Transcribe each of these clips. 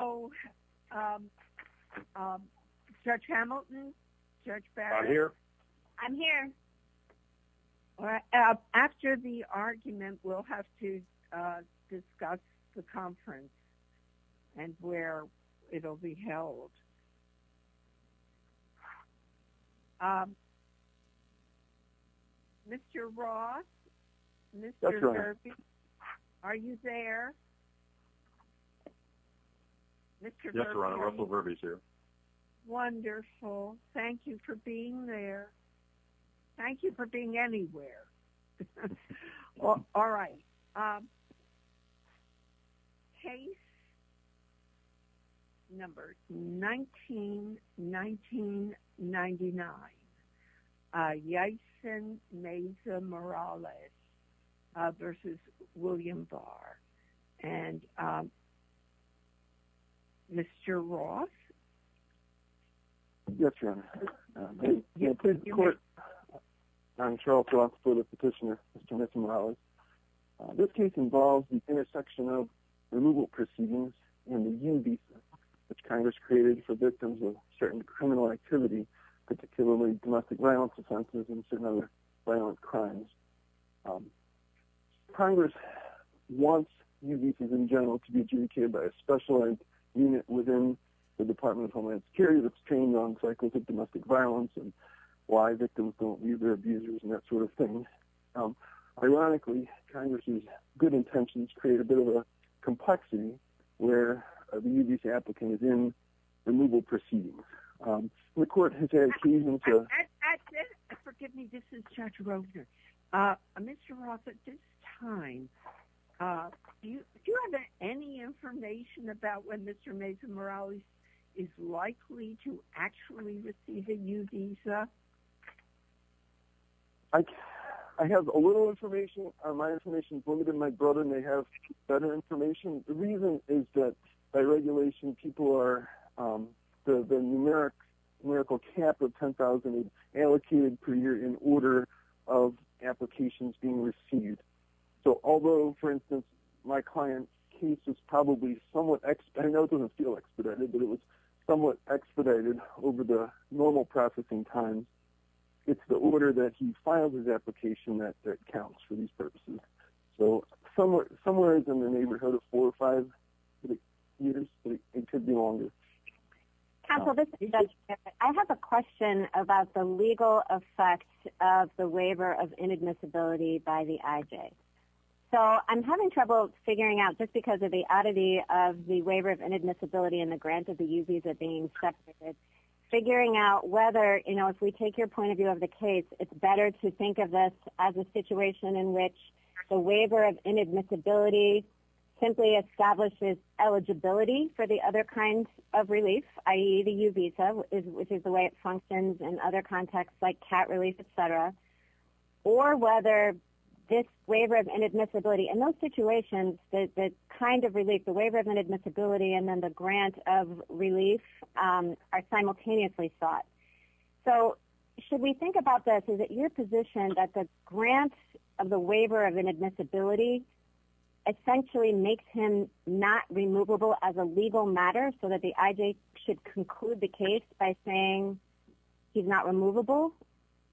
Oh, um, um, Judge Hamilton, Judge Barrett. I'm here. All right. After the argument, we'll have to, uh, discuss the conference and where it will be held. Um, Mr. Ross, Mr. Murphy, are you there? Mr. Russell Burby's here. Wonderful. Thank you for being there. Thank you for being anywhere. All right. Um, case number 19 1999. Uh, yes. And Mesa Morales versus William Barr and, um, Mr. Ross. Yes, Your Honor. I'm Charles Ross for the petitioner. Mr. Mr Morales. This case involves the intersection of removal proceedings in the UBC, which Congress created for victims of certain criminal activity, particularly domestic violence, offenses and other violent crimes. Um, Congress wants UBC's in general to be judiciated by a specialized unit within the Department of Homeland Security that's trained on psychotic domestic violence and why victims don't leave their abusers and that sort of thing. Um, ironically, Congress's good intentions create a bit of a complexity where the UBC applicant is in removal proceeding. Um, the court excuse me. Forgive me. This is Jack Roger. Uh, Mr. Ross, at this time, uh, do you have any information about when Mr Mason Morales is likely to actually receive a new visa? I have a little information. My information is limited. My brother may have better information. The reason is that by regulation, people are, um, the numeric miracle cap of 10,000 allocated per year in order of applications being received. So although, for instance, my client case is probably somewhat expedited. I know it doesn't feel expedited, but it was somewhat expedited over the normal processing time. It's the order that he filed his application that that counts for these purposes. So somewhere somewhere is in the neighborhood of 45 years. It could be longer. Council, this I have a question about the legal effect of the waiver of inadmissibility by the I J. So I'm having trouble figuring out just because of the oddity of the waiver of inadmissibility in the grant of the U. S. Visa being separated, figuring out whether you know, if we take your point of view of the case, it's better to think of this as a situation in which the waiver of inadmissibility simply establishes eligibility for the other kinds of relief, ie the U visa, which is the way it functions in other contexts like cat relief, etcetera. Or whether this waiver of inadmissibility in those situations that kind of relief the waiver of inadmissibility and then the grant of relief are simultaneously thought. So should we think about this is that your position that the grant of the waiver of inadmissibility essentially makes him not removable as a legal matter so that the I J should conclude the case by saying he's not removable.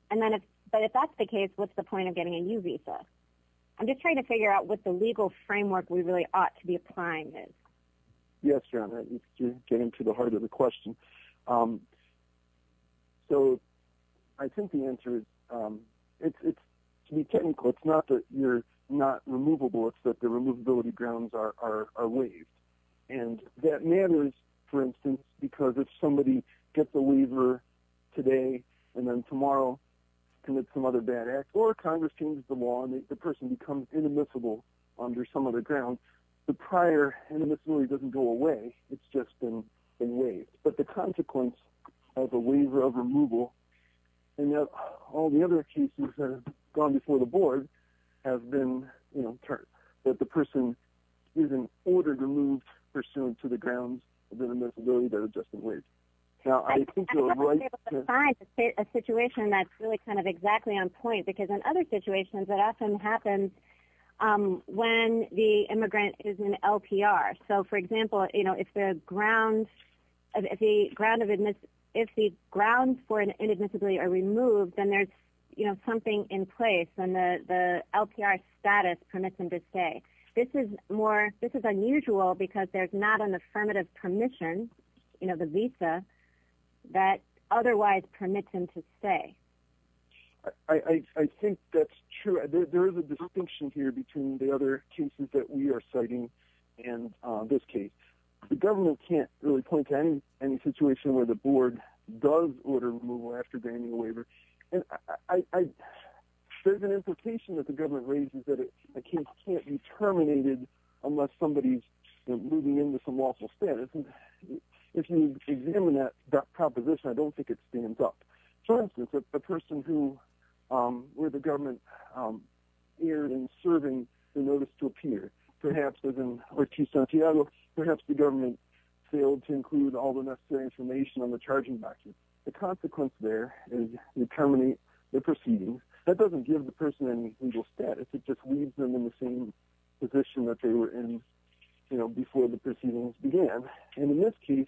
And then, but if that's the case, what's the point of getting a new visa? I'm just trying to figure out what the legal framework we really ought to be applying is. Yes, you're on that. You're getting to the heart of the question. Um, so I think the answer is, um, it's to be technical. It's not that you're not removable. It's that the removability grounds are are are waived. And that matters, for instance, because if somebody gets a waiver today and then tomorrow commit some other bad act or Congress changes the law and the person becomes inadmissible under some of the ground, the prior inadmissibility doesn't go away. It's just been waived. But the consequence of a waiver of board has been, you know, that the person is in order to move pursuant to the grounds of inadmissibility that are just in wait. Now, I think you're right to find a situation that's really kind of exactly on point, because in other situations that often happens, um, when the immigrant is in LPR. So, for example, you know, if the ground if the ground of admits if the ground for an inadmissibility are removed, then there's, you know, something in place and the LPR status permits him to stay. This is more. This is unusual because there's not an affirmative permission. You know, the visa that otherwise permits him to stay. I think that's true. There is a distinction here between the other cases that we are citing in this case. The government can't really point to any any situation where the board does order removal after gaining a waiver. There's an implication that the government raises that a case can't be terminated unless somebody's moving into some lawful status. If you examine that proposition, I don't think it stands up. For instance, if the person who, um, where the government, um, erred in serving the notice to appear, perhaps as in Ortiz Santiago, perhaps the government failed to include all the necessary information on the charging back. The consequence there is you terminate the proceeding. That doesn't give the person any legal status. It just leaves them in the same position that they were in, you know, before the proceedings began. And in this case,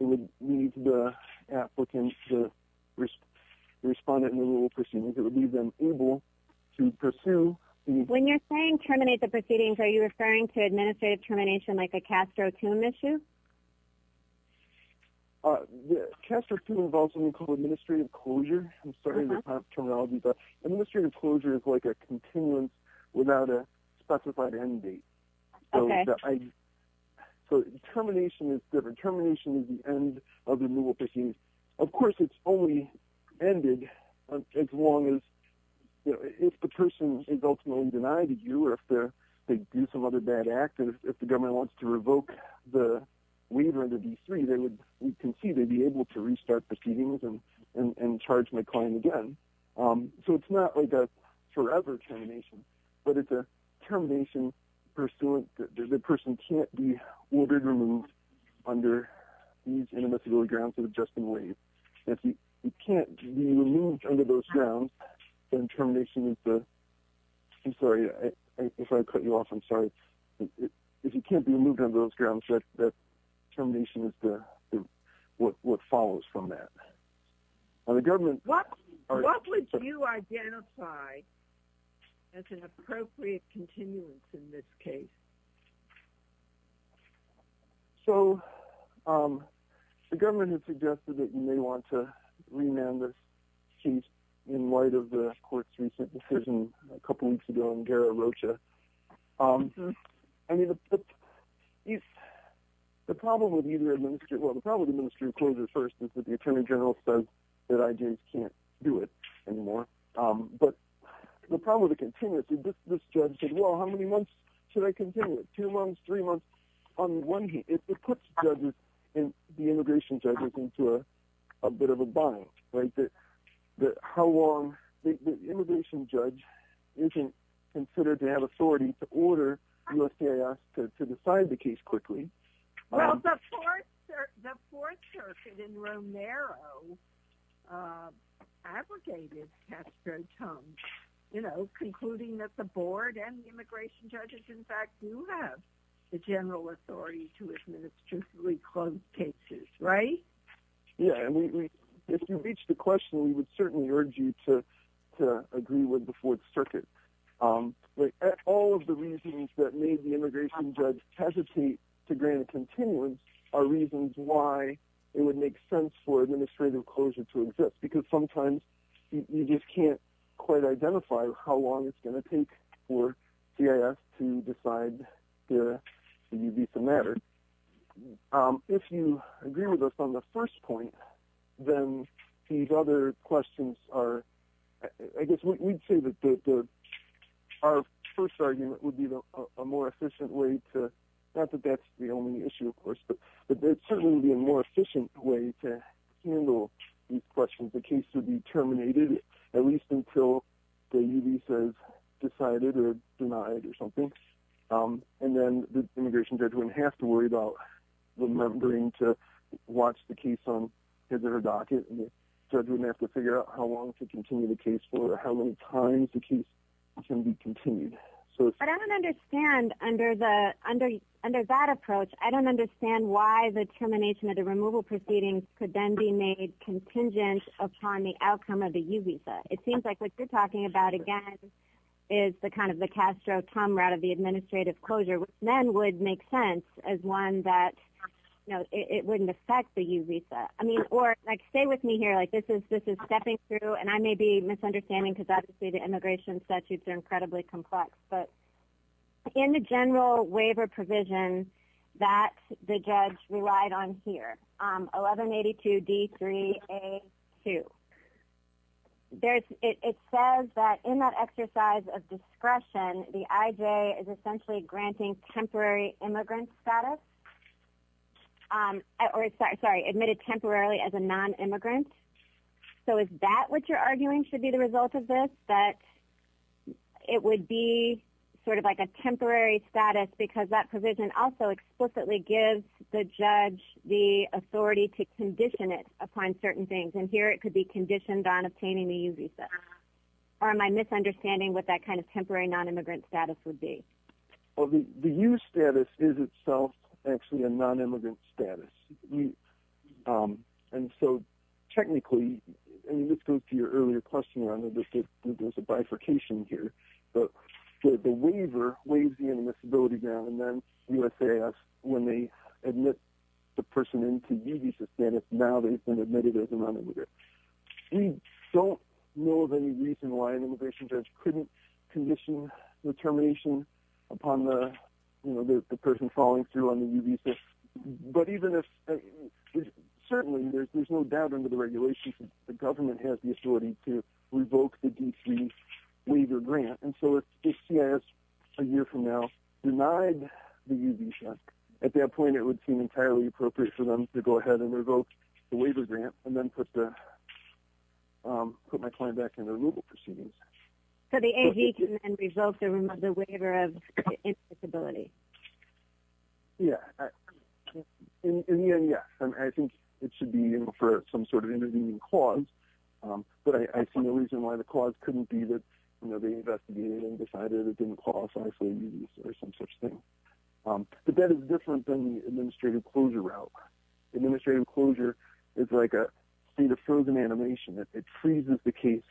it would need the applicant to respond in the rule. Pursuing it would leave them able to pursue when you're saying terminate the proceedings. Are you referring to administrative termination like a Castro tomb issue? Uh, Castro to involve something called administrative closure. I'm sorry, terminology, but administrative closure is like a continuum without a specified end date. Okay, so termination is different. Termination is the end of removal proceedings. Of course, it's only ended as long as if the person is ultimately denied to you or if they do some other bad act. And if the waiver to be three, they would concede to be able to restart proceedings and charge my client again. Um, so it's not like a forever termination, but it's a termination pursuant. The person can't be ordered removed under these inadmissibility grounds of adjusting ways. If you can't be removed under those grounds, then termination is the I'm sorry if I cut you off. I'm sorry if you can't be moved on those grounds, that termination is what follows from that. The government. What would you identify as an appropriate continuance in this case? So, um, the government has suggested that you may want to rename this sheet in light of the court's recent decision a couple weeks ago in Gara Rocha. Um, I mean, if the problem with either administer, well, the problem with administering closure first is that the Attorney General says that I just can't do it anymore. Um, but the problem with the continuity, this judge said, Well, how many months should I continue it? Two months, three months on one? It puts judges in the immigration judges into a bit of a bind, right? That how long the immigration judge isn't considered to have authority to order us to decide the case quickly. Well, the fourth circuit in Romero, uh, abrogated Castro tongue, you know, concluding that the board and the immigration judges, in fact, you have the general authority to reach the question. We would certainly urge you to agree with the fourth circuit. Um, all of the reasons that made the immigration judge hesitate to grant continuance are reasons why it would make sense for administrative closure to exist. Because sometimes you just can't quite identify how long it's gonna take for C. I. S. To decide. Yeah, you beat the matter. Um, if you agree with us on the first point, then these other questions are, I guess we'd say that our first argument would be a more efficient way to not that that's the only issue, of course, but there's certainly be a more efficient way to handle these questions. The case would be terminated, at least until the U. V. Says decided or denied or something. Um, and then the immigration judge wouldn't have to worry about remembering to watch the case on his or her docket. Judge wouldn't have to figure out how long to continue the case for how many times the case can be continued. So I don't understand. Under the under under that approach, I don't understand why the termination of the removal proceedings could then be made contingent upon the outcome of the U visa. It seems like what you're talking about again is the kind of the as one that, you know, it wouldn't affect the U visa. I mean, or like, stay with me here like this is this is stepping through and I may be misunderstanding because obviously the immigration statutes are incredibly complex. But in the general waiver provision that the judge relied on here 11 82 d three a two. There's it says that in that exercise of discretion, the I J is essentially granting temporary immigrant status. Um, or sorry, admitted temporarily as a non immigrant. So is that what you're arguing should be the result of this? That it would be sort of like a temporary status because that provision also explicitly gives the judge the authority to condition it upon certain things. And here it could be conditioned on obtaining the U visa. Or am I misunderstanding what that kind of temporary non immigrant status would be? Well, the U status is itself actually a non immigrant status. Um, and so technically, and this goes to your earlier question on the bifurcation here, the waiver weighs the in this ability down. And then U. S. A. S. When they admit the person into U visa status, now they've been admitted as a running with it. We don't know of any reason why an immigration judge couldn't condition the termination upon the, you know, the person falling through on the U visa. But even if certainly there's no doubt under the regulations, the government has the authority to revoke the D three waiver grant. And so it's a year from now denied the U visa. At that point, it would seem entirely appropriate for them to go ahead and revoke the waiver grant and then put the, um, put my client back in the removal proceedings. So the A. V. Can result in the waiver of disability? Yeah. In the end, yeah, I think it should be for some sort of intervening cause. But I see no reason why the cause couldn't be that, you know, the investigating decided it didn't qualify for some such thing. But that is different than the administrative closure route. Administrative closure is like a state of frozen animation. It freezes the case,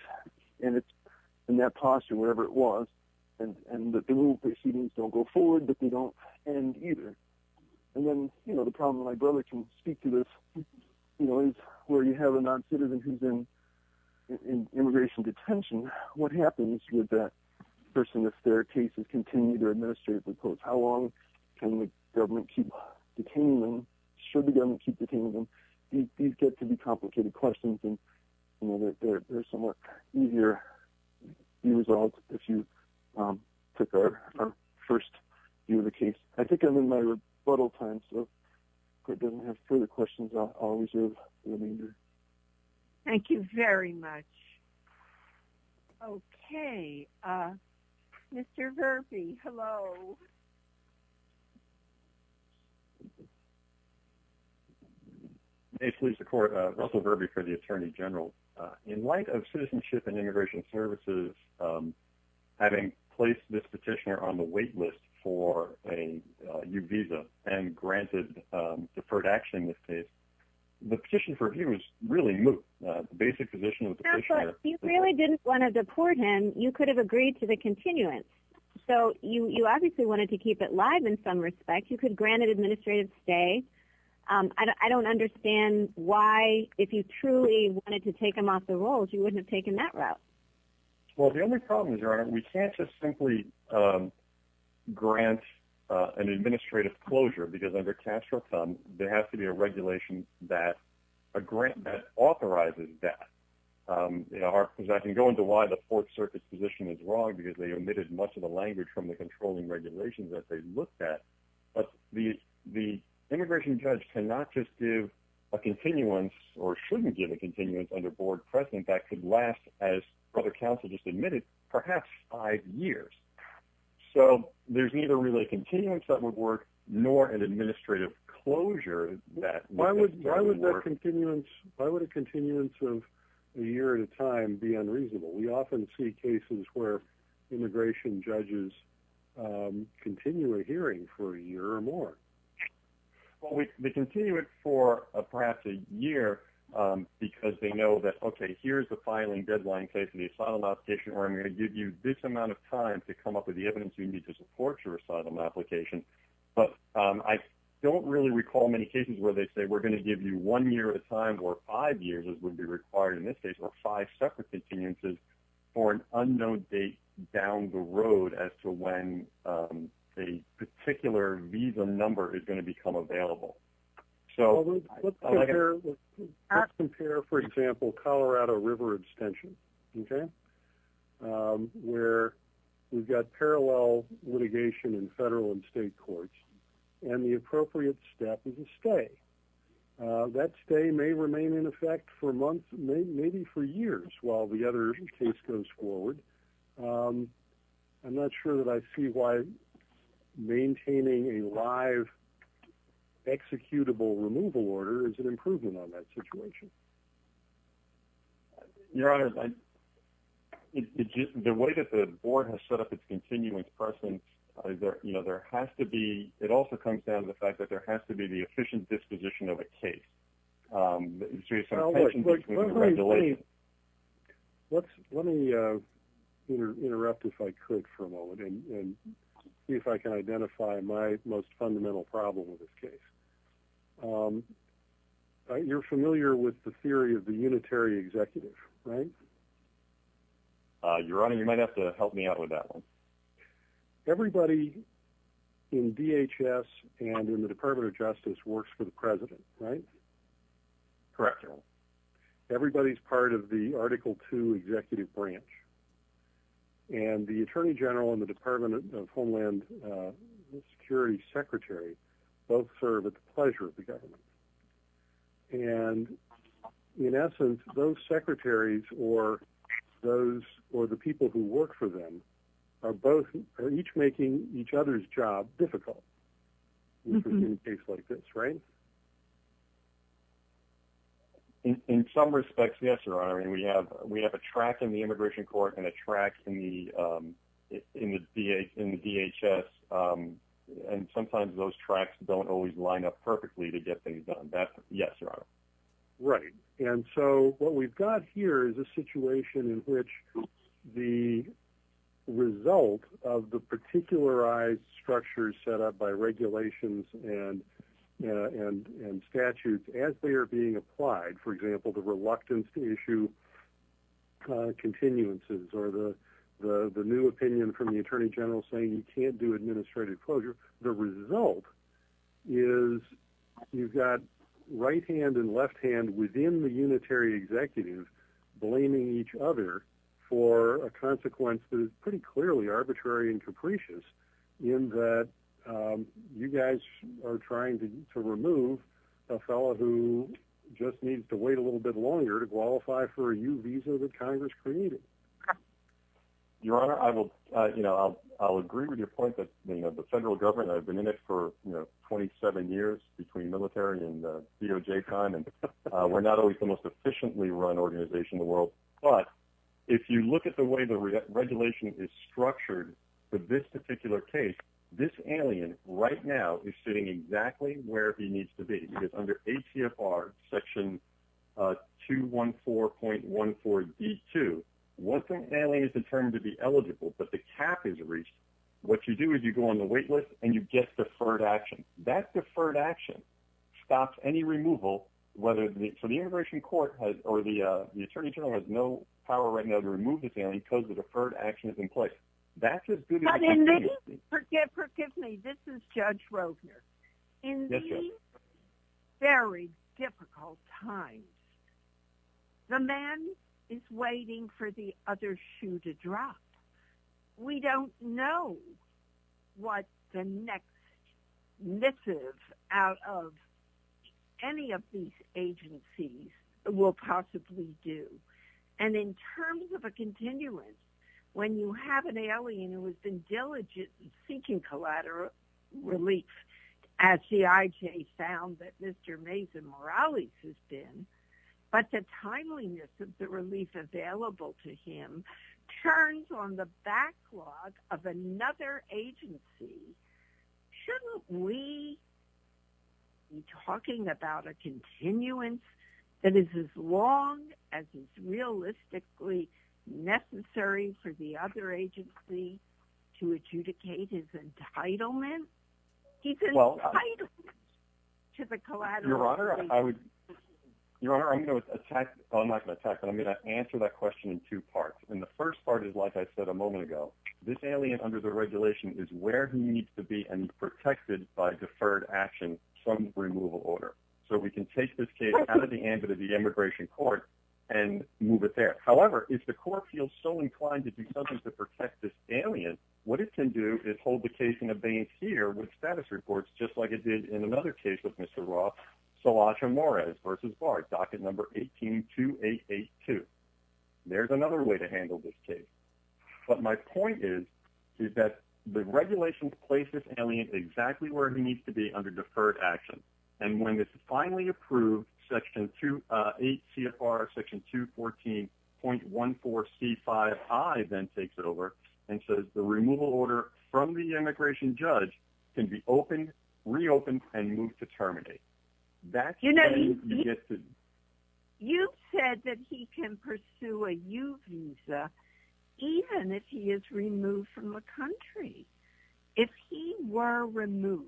and it's in that posture, wherever it was. And the proceedings don't go forward, but they don't end either. And then, you know, the problem my brother can speak to this, you know, where you have a non citizen who's in immigration detention. What happens with that person if their cases continue to administratively close? How long government keep detaining them? Should government keep detaining them? These get to be complicated questions, and you know, they're somewhat easier. You resolved if you took our first view of the case. I think I'm in my rebuttal time, so it doesn't have further questions. I'll reserve the remainder. Thank you very much. Okay. Uh, Mr Murphy. Hello. Basically, the court Russell Burberry for the attorney general in light of citizenship and immigration services. Um, having placed this petitioner on the wait list for a new visa and granted deferred action. This case, the petition for viewers really move basic position. You really didn't want to deport him. You could have agreed to the continuance. So you obviously wanted to keep it live. In some respect, you could granted administrative stay. I don't understand why. If you truly wanted to take him off the rolls, you wouldn't have taken that route. Well, the only problem is, Your Honor, we can't just simply, um, grant an administrative closure because under cash or come there has to be a regulation that a grant that authorizes that, um, they are. I can go into why the Fourth Circuit position is wrong because they omitted much of the language from the controlling regulations that they looked at. But the the immigration judge cannot just give a continuance or shouldn't give a continuance under board precedent that could last as other counsel just admitted, perhaps five years. So there's neither really continuance that would work, nor an administrative closure that why would why would that continuance? Why would a continuance of a year at a time be unreasonable? We often see cases where immigration judges, um, continue a hearing for a year or more. Well, we continue it for perhaps a year because they know that. Okay, here's the filing deadline case of the asylum application where I'm gonna give you this amount of time to come up with the evidence you need to support your asylum application. But I don't really recall many cases where they say we're gonna give you one year at a time or five years would be required in this case or five separate continuances for an unknown date down the road as to when, um, a particular visa number is going to become available. So let's compare, for example, Colorado River extension. Okay. Um, where we've got parallel litigation in federal and state courts and the appropriate step is a stay. Uh, that stay may remain in effect for months, maybe for years while the other case goes forward. Um, I'm not sure that I see why maintaining a live executable removal order is an improvement on that situation. Your Honor, the way that the board has set up its continuance person, you know, there has to be. It also comes down to the fact that there has to be the efficient disposition of a case. Um, let's let me, uh, interrupt if I could for a moment and see if I can identify my most fundamental problem with this case. Um, you're familiar with the theory of the unitary executive, right? Your Honor, you might have to help me out with that one. Everybody in DHS and in the Department of Justice works for the president, right? Correct. Everybody's part of the Article two executive branch, and the attorney general in the Department of Homeland Security secretary both serve at the pleasure of the government. And in essence, those secretaries or those or the people who work for them are both each making each other's job difficult in a case like this, right? In some respects, yes, Your Honor. I mean, we have we have a track in the immigration court and a track in the, um, in the DHS. Um, and sometimes those tracks don't always line up perfectly to get things done. That's yes, Your Honor. Right. And so what we've got here is a situation in which the result of the particularized structures set up by regulations and and statutes as they're being applied, for example, the reluctance to issue continuances or the new opinion from the attorney general saying you can't do administrative closure. The result is you've got right hand and left hand within the unitary executive blaming each other for a consequence that is pretty clearly arbitrary and capricious in that you guys are trying to remove a fellow who just needs to wait a little bit longer to qualify for a new visa that Congress created. Your Honor, I will, you know, I'll agree with your point that the federal government I've been in it for 27 years between military and the DOJ time and we're not always the most efficiently run organization in the world. But if you look at the way the regulation is structured for this particular case, this alien right now is sitting exactly where he needs to be under a TFR section, uh, 214.14 D two. Welcome family is determined to be eligible, but the cap is reached. What you do is you go on the wait list and you get deferred action. That deferred action stops any removal, whether it's for the immigration court or the attorney general has no power right now to remove the family because the deferred action is in place. That's just good. Forgive me. This is Judge Rovner in very difficult times. The man is waiting for the other shoe to drop. We don't know what the next missive out of any of these agencies will possibly do. And in terms of a continuance, when you have an alien who has been diligent seeking collateral relief as the IJ found that Mr Mason Morales has been, but the timeliness of the relief available to him turns on the backlog of another agency. Shouldn't we talking about a continuance that is as long as it's realistically necessary for the other agency to adjudicate his entitlement? He's entitled to the collateral. Your Honor, I would, Your Honor, I'm going to attack. I'm not gonna attack. I'm gonna answer that question in two parts. And the first part is, like I said a moment ago, this alien under the regulation is where he needs to be and protected by deferred action from removal order. So we can take this case out of the end of the immigration court and move it there. However, if the court feels so inclined to do something to protect this alien, what it can do is hold the case in a bank here with status reports, just like it did in another case with Mr Roth. So watch her more as versus bar docket number 18 2882. There's another way to handle this case. But my point is, is that the regulation places alien exactly where he needs to be under deferred action. And when this is finally approved, section 28 CFR section 214.14 C five I then takes it over and says the removal order from the immigration judge can be opened, reopened and moved to terminate. That's you know, you said that he can pursue a U visa even if he is removed from the country. If he were removed,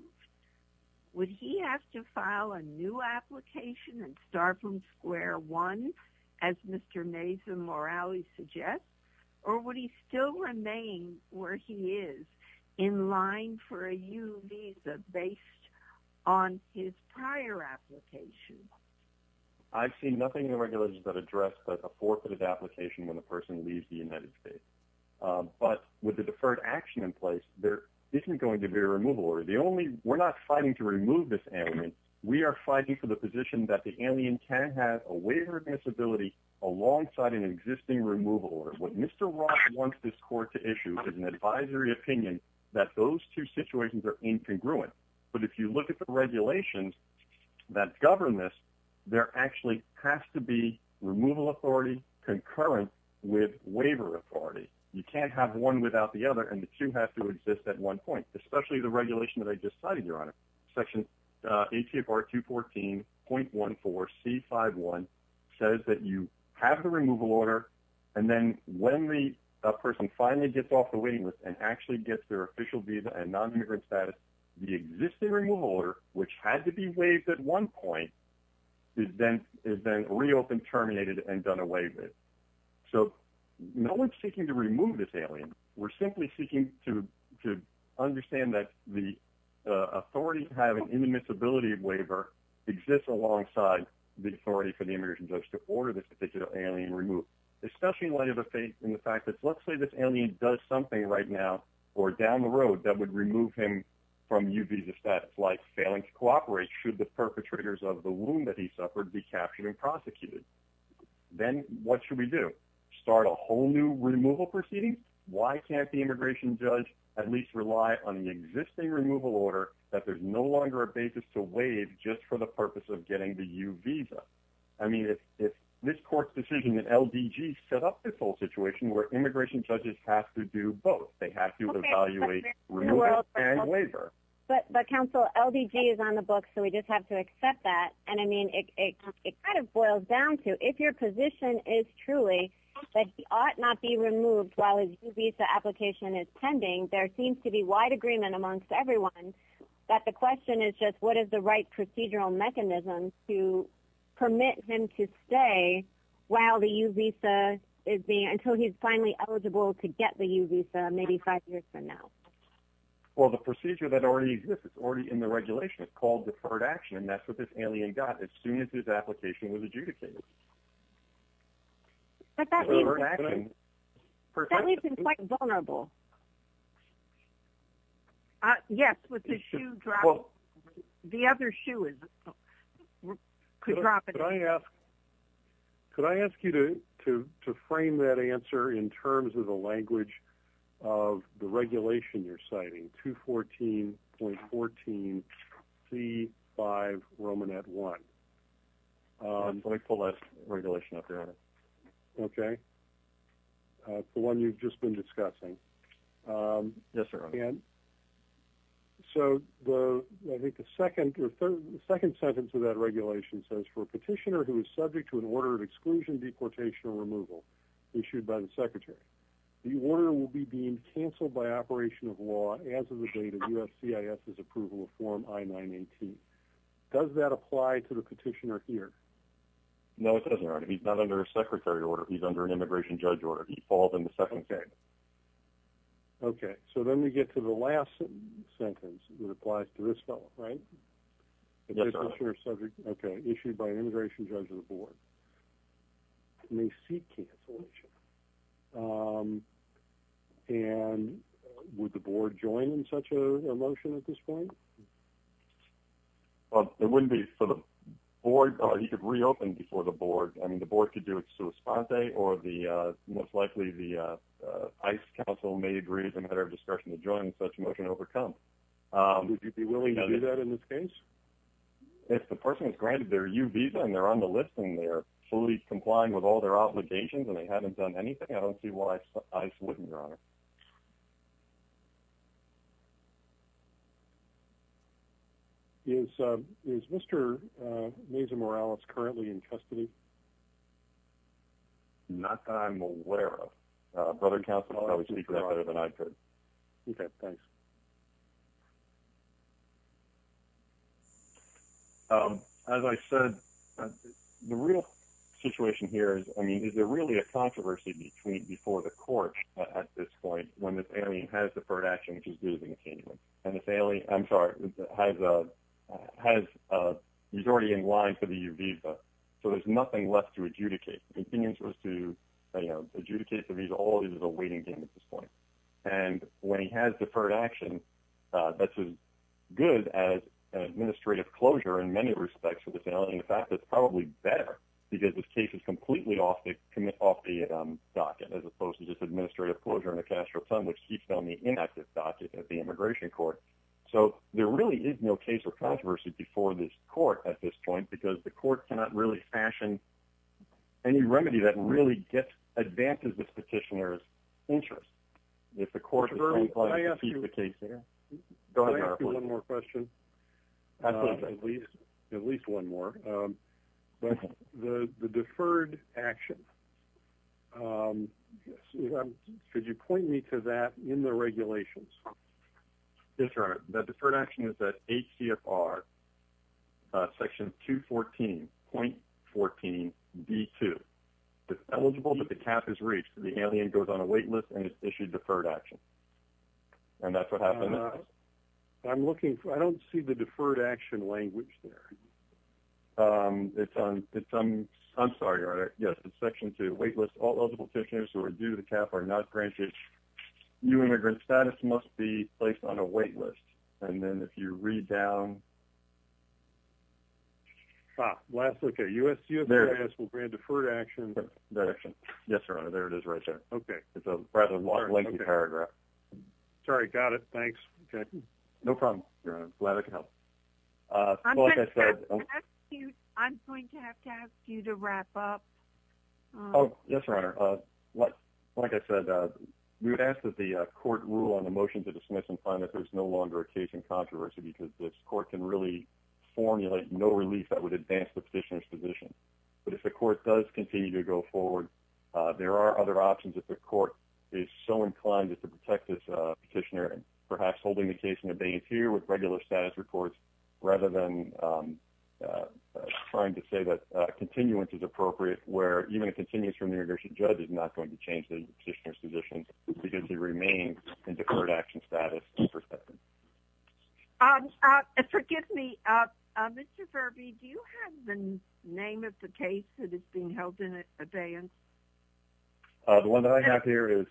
would he have to file a new application and start from square one as Mr Mason Morales suggest? Or would he still remain where he is in line for a U visa based on his prior application? I've seen nothing in the regulations that address that a forfeited application when a person leaves the United States. But with the deferred action in place, there isn't going to be a removal or the only we're not fighting to remove this. And we are fighting for the position that the alien can have a waiver of disability alongside an existing removal order. What Mr Rock wants this court to issue is an advisory opinion that those two situations are incongruent. But if you look at the regulations that govern this, there actually has to be removal authority concurrent with waiver authority. You can't have one without the other. And the two have to exist at one point, especially the regulation that I just cited. Your honor section 80 of our 2 14.14 C 51 says that you have the removal order. And then when the person finally gets off the waiting list and actually gets their official visa and nonimmigrant status, the existing removal order, which had to be waived at one point, is then is then reopened, terminated and done away with. So no one's seeking to remove this alien. We're simply seeking to to understand that the authority have an inadmissibility of waiver exists alongside the authority for the immigration judge to order this particular alien removed, especially in light of the faith in the fact that let's say this alien does something right now or down the road that would remove him from you visa status, like failing to cooperate. Should the perpetrators of the wound that he suffered be captured and prosecuted? Then what should we do? Start a whole new removal proceedings? Why can't the police rely on the existing removal order that there's no longer a basis to waive just for the purpose of getting the U visa? I mean, if this court decision that L. D. G. Set up this whole situation where immigration judges have to do both, they have to evaluate removal and waiver. But but council L. D. G. Is on the book, so we just have to accept that. And I mean, it kind of boils down to if your position is truly that he ought not be removed while his visa application is pending. There seems to be wide agreement amongst everyone that the question is just what is the right procedural mechanism to permit him to stay while the U visa is being until he's finally eligible to get the U visa, maybe five years from now. Well, the procedure that already exists already in the regulation is called deferred action, and that's what this alien got as soon as his application was adjudicated. But that means that we've been quite vulnerable. Yes, with the shoe drop. The other shoe is could drop it. I ask. Could I ask you to to frame that answer in terms of the language of the regulation you're C five Roman at one. Um, let me pull that regulation up there. Okay, the one you've just been discussing. Um, yes, sir. And so the I think the second or third second sentence of that regulation says for a petitioner who is subject to an order of exclusion, deportation or removal issued by the secretary, the order will be being canceled by operation of law. As of the date of U. S. C. I. S. Is approval of form I 9 18. Does that apply to the petitioner here? No, it doesn't. He's not under a secretary order. He's under an immigration judge order. He falls in the second thing. Okay, so then we get to the last sentence that applies to this fellow, right? Yes, sir. Subject. Okay. Issued by an immigration judge of the board. They seek cancellation. Um, and would the board join in such a motion at this point? Well, it wouldn't be for the board. You could reopen before the board. I mean, the board could do it. So a spot day or the most likely the ice council may agree. It's a matter of discussion to join such motion overcome. Um, you'd be willing to do that in this case. If the person is granted their you visa, and they're on the list, and they're fully complying with all their obligations, and they haven't done anything, I don't see why I wouldn't, Your Honor. Is is Mr Mesa Morales currently in custody? Not that I'm aware of. Brother Council probably speak that better than I could. Okay, thanks. Um, as I said, the real situation here is, I mean, is there really a controversy between before the court at this point when the family has deferred action, which is due to continue on the family? I'm sorry, has a has a majority in line for the U visa, so there's nothing left to adjudicate opinions was to adjudicate the visa. All is a waiting game at this point. And when he has deferred action, that's a good as an in many respects for the family. In fact, that's probably better because this case is completely off the commit off the docket, as opposed to just administrative closure in the Castro time, which keeps on the inactive docket at the immigration court. So there really is no case of controversy before this court at this point, because the court cannot really fashion any remedy that really gets advances. This petitioner's interest if the court I asked you the case there. Go ahead. One more question. At least at least one more. Um, but the deferred action. Um, could you point me to that in the regulations? That's right. That deferred action is that H. C. F. R. Section 2 14.14 B. Two. It's eligible, but the cap is reached. The alien goes on a wait list and issued deferred action. And that's what happened. I'm looking. I don't see the deferred action language there. Um, it's on. I'm sorry. Yes, it's section two. Wait list. All eligible petitioners who are due the cap are not granted. You. Immigrant status must be placed on a wait list. And then if you read down last look at U. S. U. S. Will grant deferred action direction. Yes, sir. There it is right there. Okay. It's a rather long, lengthy paragraph. Sorry. Got it. Thanks. Okay. No problem. Glad I could help. Uh, I'm going to have to ask you to wrap up. Oh, yes, Your Honor. What? Like I said, we would ask that the court rule on the motion to dismiss and find that there's no longer a case in controversy because this court can really formulate no relief that would advance the petitioner's position. But if the court does continue to go forward, there are other options that the court is so inclined to protect this petitioner, perhaps holding the case in a bay here with regular status reports rather than, um, uh, trying to say that continuance is appropriate, where even it continues from the original judge is not going to change the petitioner's position because he remains in the current action status perspective. Um, uh, forgive me. Uh, Mr Furby, do you have the name of the case that is being held in advance? The one that I have here is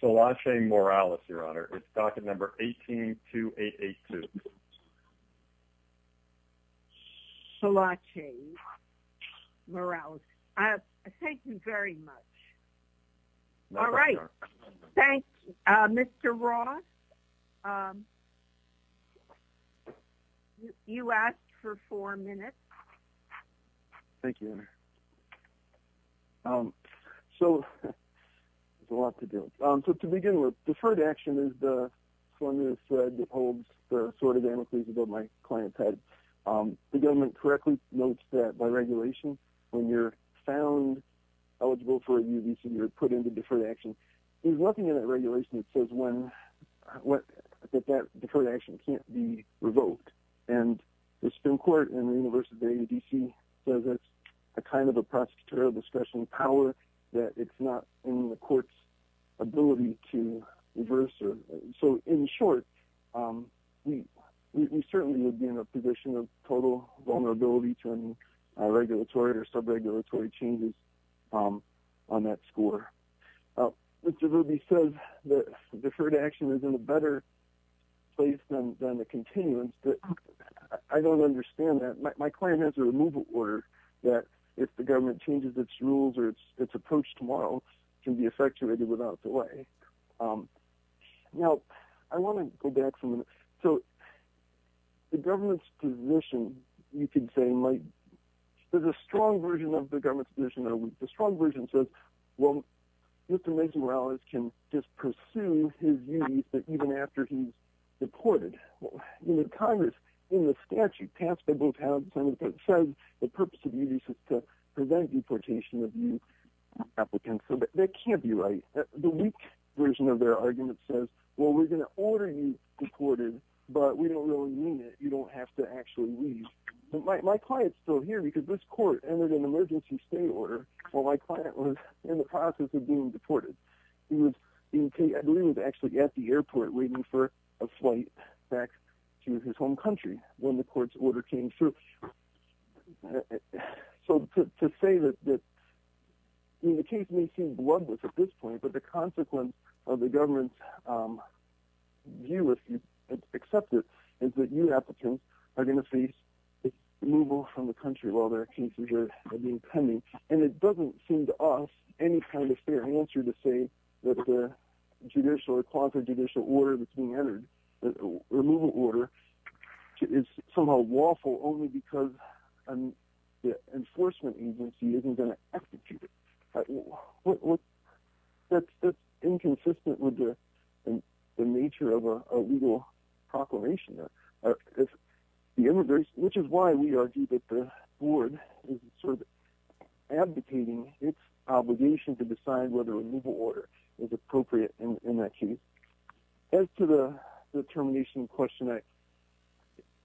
so watching Morales, Your Honor. It's docket number 18 to 882. So watching morale. Uh, thank you very much. All right. Thank you, Mr Ross. Um, you asked for four minutes. Thank you. Um, so it's a lot to do. Um, so to begin with, deferred action is the formula thread that holds the sort of an increase above my client's head. Um, the government correctly notes that by regulation, when you're found eligible for a new visa, you're put into deferred action. There's nothing in the regulation that says when what that deferred action can't be revoked. And the Supreme Court and the University of D. C. So that's a kind of a prosecutorial discretion power that it's not in the court's ability to reverse. So in short, um, we certainly would be in a position of total vulnerability to any regulatory or sub regulatory changes. Um, on he says that deferred action is in a better place than the continuance. But I don't understand that my client has a removal order that if the government changes its rules or its approach tomorrow can be effectuated without delay. Um, now I want to go back from. So the government's position, you could say, like there's a strong version of the government's position. The strong version says, well, Mr. Macy Wallace can just pursue his views even after he's deported. Congress in the statute passed by both towns and it says the purpose of you to prevent deportation of you applicants. So that can't be right. The weak version of their argument says, well, we're gonna order you deported, but we don't really mean it. You don't have to actually leave. My client's still here because this court entered an emergency stay order. Well, my client was in the process of being deported. He was, I believe, actually at the airport waiting for a flight back to his home country when the court's order came through. So to say that the case may seem bloodless at this point, but the consequence of the government's, um, view, if you accept it, is that you applicants are gonna face removal from the country while their cases are being pending. And it doesn't seem to us any kind of fair answer to say that the judicial or quasi-judicial order that's being entered, the removal order, is somehow lawful only because an enforcement agency isn't going to execute it. That's inconsistent with the nature of a legal proclamation, which is why we argue that the board is sort of advocating its obligation to decide whether a removal order is appropriate in that case. As to the termination of Question X,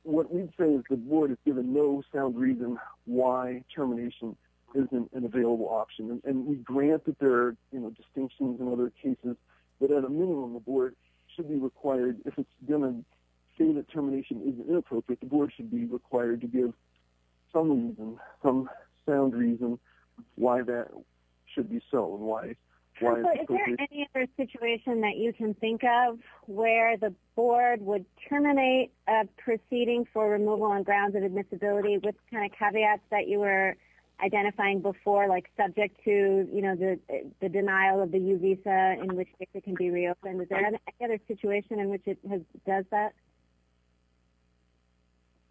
what we'd say is the board is given no sound reason why termination isn't an available option. And we grant that there are, you know, distinctions in other cases, but at a minimum the board should be required to give some reason, some sound reason, why that should be so and why it's appropriate. Is there any other situation that you can think of where the board would terminate a proceeding for removal on grounds of admissibility with kind of caveats that you were identifying before, like subject to, you know, the denial of the U visa in which it can be reopened. Is there any other situation in which it does that?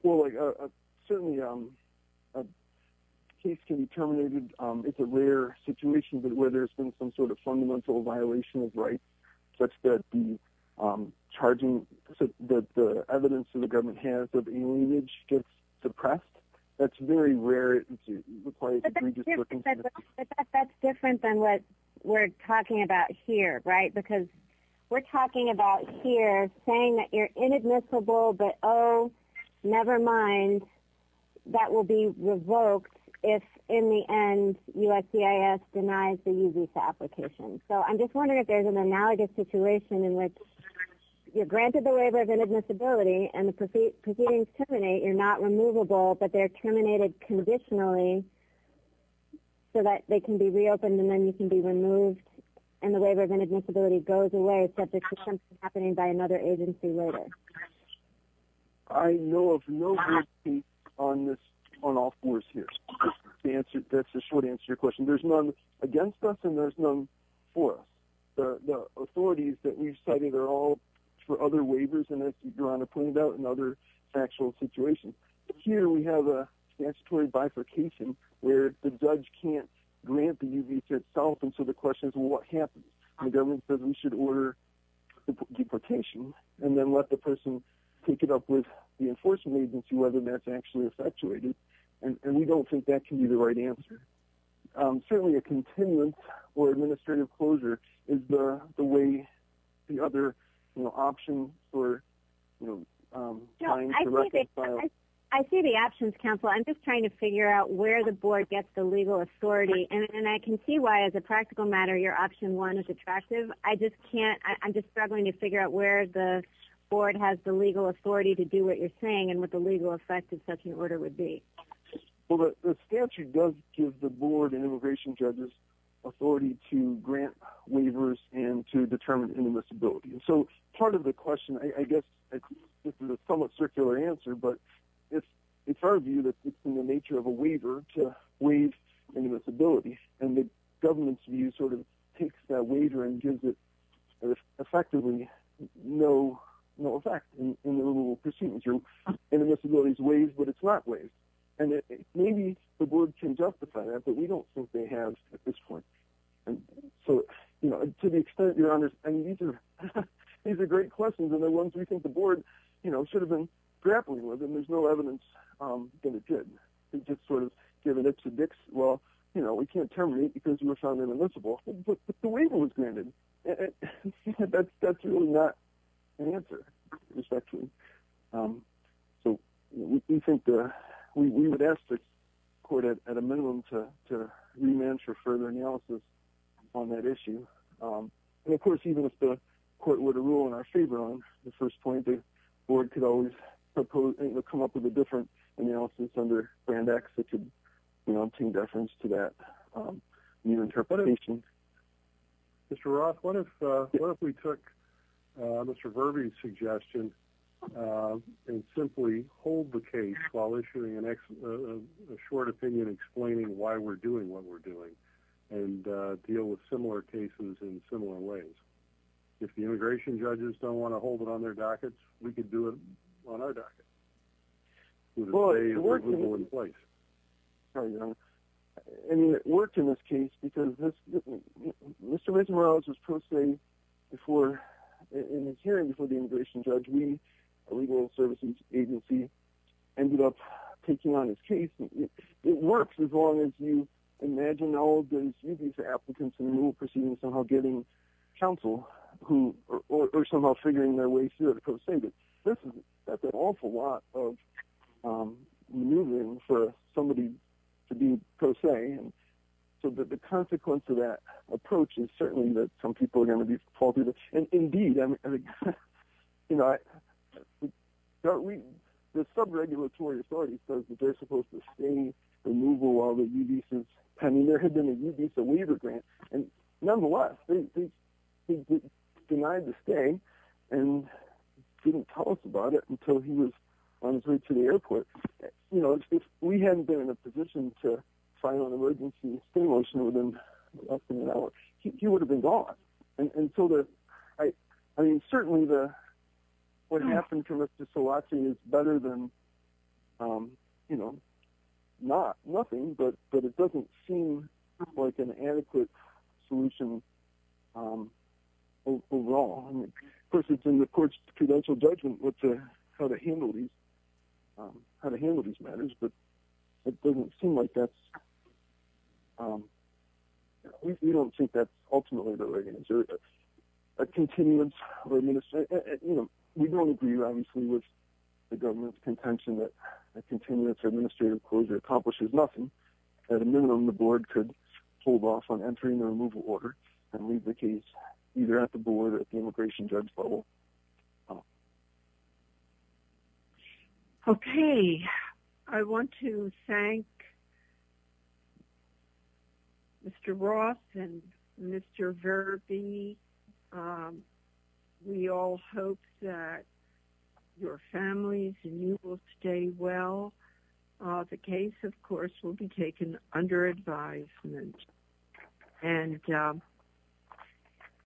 Well, certainly a case can be terminated. It's a rare situation, but where there's been some sort of fundamental violation of rights, such that the evidence that the government has of alienage gets suppressed, that's very rare. But that's different than what we're talking about here, right? Because we're talking about here saying that you're inadmissible, but oh, never mind, that will be revoked if in the end USCIS denies the U visa application. So I'm just wondering if there's an analogous situation in which you're granted the waiver of inadmissibility and the proceedings terminate, you're not removable, but they're terminated conditionally so that they can be reopened and then you can be removed and the waiver of inadmissibility goes away subject to something happening by another agency later. I know of no case on this on all fours here. That's the short answer to your question. There's none against us and there's none for us. The authorities that we've cited are all for other waivers, and as Your Honor pointed out, in other factual situations. Here we have a statutory bifurcation where the judge can't grant the U visa itself, and so the question is, well, what happens? The government says we should order the deportation and then let the person pick it up with the enforcement agency whether that's actually And we don't think that can be the right answer. Certainly a continuance or administrative closure is the way the other options or No, I see the options, counsel. I'm just trying to figure out where the board gets the legal authority, and I can see why as a practical matter your option one is attractive. I just can't, I'm just struggling to figure out where the board has the legal authority to do what you're Well, the statute does give the board and immigration judges authority to grant waivers and to determine inadmissibility. So part of the question, I guess this is a somewhat circular answer, but it's our view that it's in the nature of a waiver to waive inadmissibility. And the government's view sort of takes that waiver and gives it effectively no effect in the removal proceedings. Inadmissibility is waived, but it's not waived. And maybe the board can justify that, but we don't think they have at this point. So to the extent, your honors, these are great questions, and they're ones we think the board should have been grappling with, and there's no evidence that it did. And just sort of giving it to Dix, well, you know, we can't terminate because you were found inadmissible, but the waiver was granted. That's really not an answer, respectfully. So we think that we would ask the court at a minimum to remand for further analysis on that issue. And of course, even if the court were to rule in our favor on the first point, the board could always propose and come up with a different analysis under Brand X that could, you know, change reference to that new interpretation. Mr. Roth, what if we took Mr. Vervey's suggestion and simply hold the case while issuing a short opinion explaining why we're doing what we're doing, and deal with similar cases in similar ways? If the immigration judges don't want to hold it on their dockets, we could do it on our docket. Well, it worked in this case because Mr. Benjamin Morales was pro se in his hearing before the immigration judge. We, a legal services agency, ended up taking on his case. It works as long as you imagine all of these applicants in the new proceedings somehow getting counsel or somehow figuring their way through it. That's an awful lot of removing for somebody to be pro se. And so the consequence of that approach is certainly that some people are going to be faulted. And indeed, I mean, you know, the sub-regulatory authority says that they're supposed to stay in removal while there's a visa. I mean, there had been a visa waiver grant. And nonetheless, he denied the stay and didn't tell us about it until he was on his way to the airport. You know, if we hadn't been in a position to sign on an emergency stay motion within less than an hour, he would have been gone. And so, I mean, certainly what happened to Mr. Szilagyi is better than, you know, nothing. But it doesn't seem like an adequate solution overall. Of course, it's in the court's credential judgment how to handle these matters. But it doesn't seem like that's, we don't think that's ultimately the right answer. A continuance or administrative, you know, we don't agree, obviously, with the government's contention that a continuance or administrative closure accomplishes nothing. At a minimum, the board could hold off on entering the removal order and leave the case either at the board or at the immigration judge level. Okay. I want to thank Mr. Roth and Mr. Verby. We all hope that your families and you will stay well. The case, of course, will be taken under advisement. Thank you.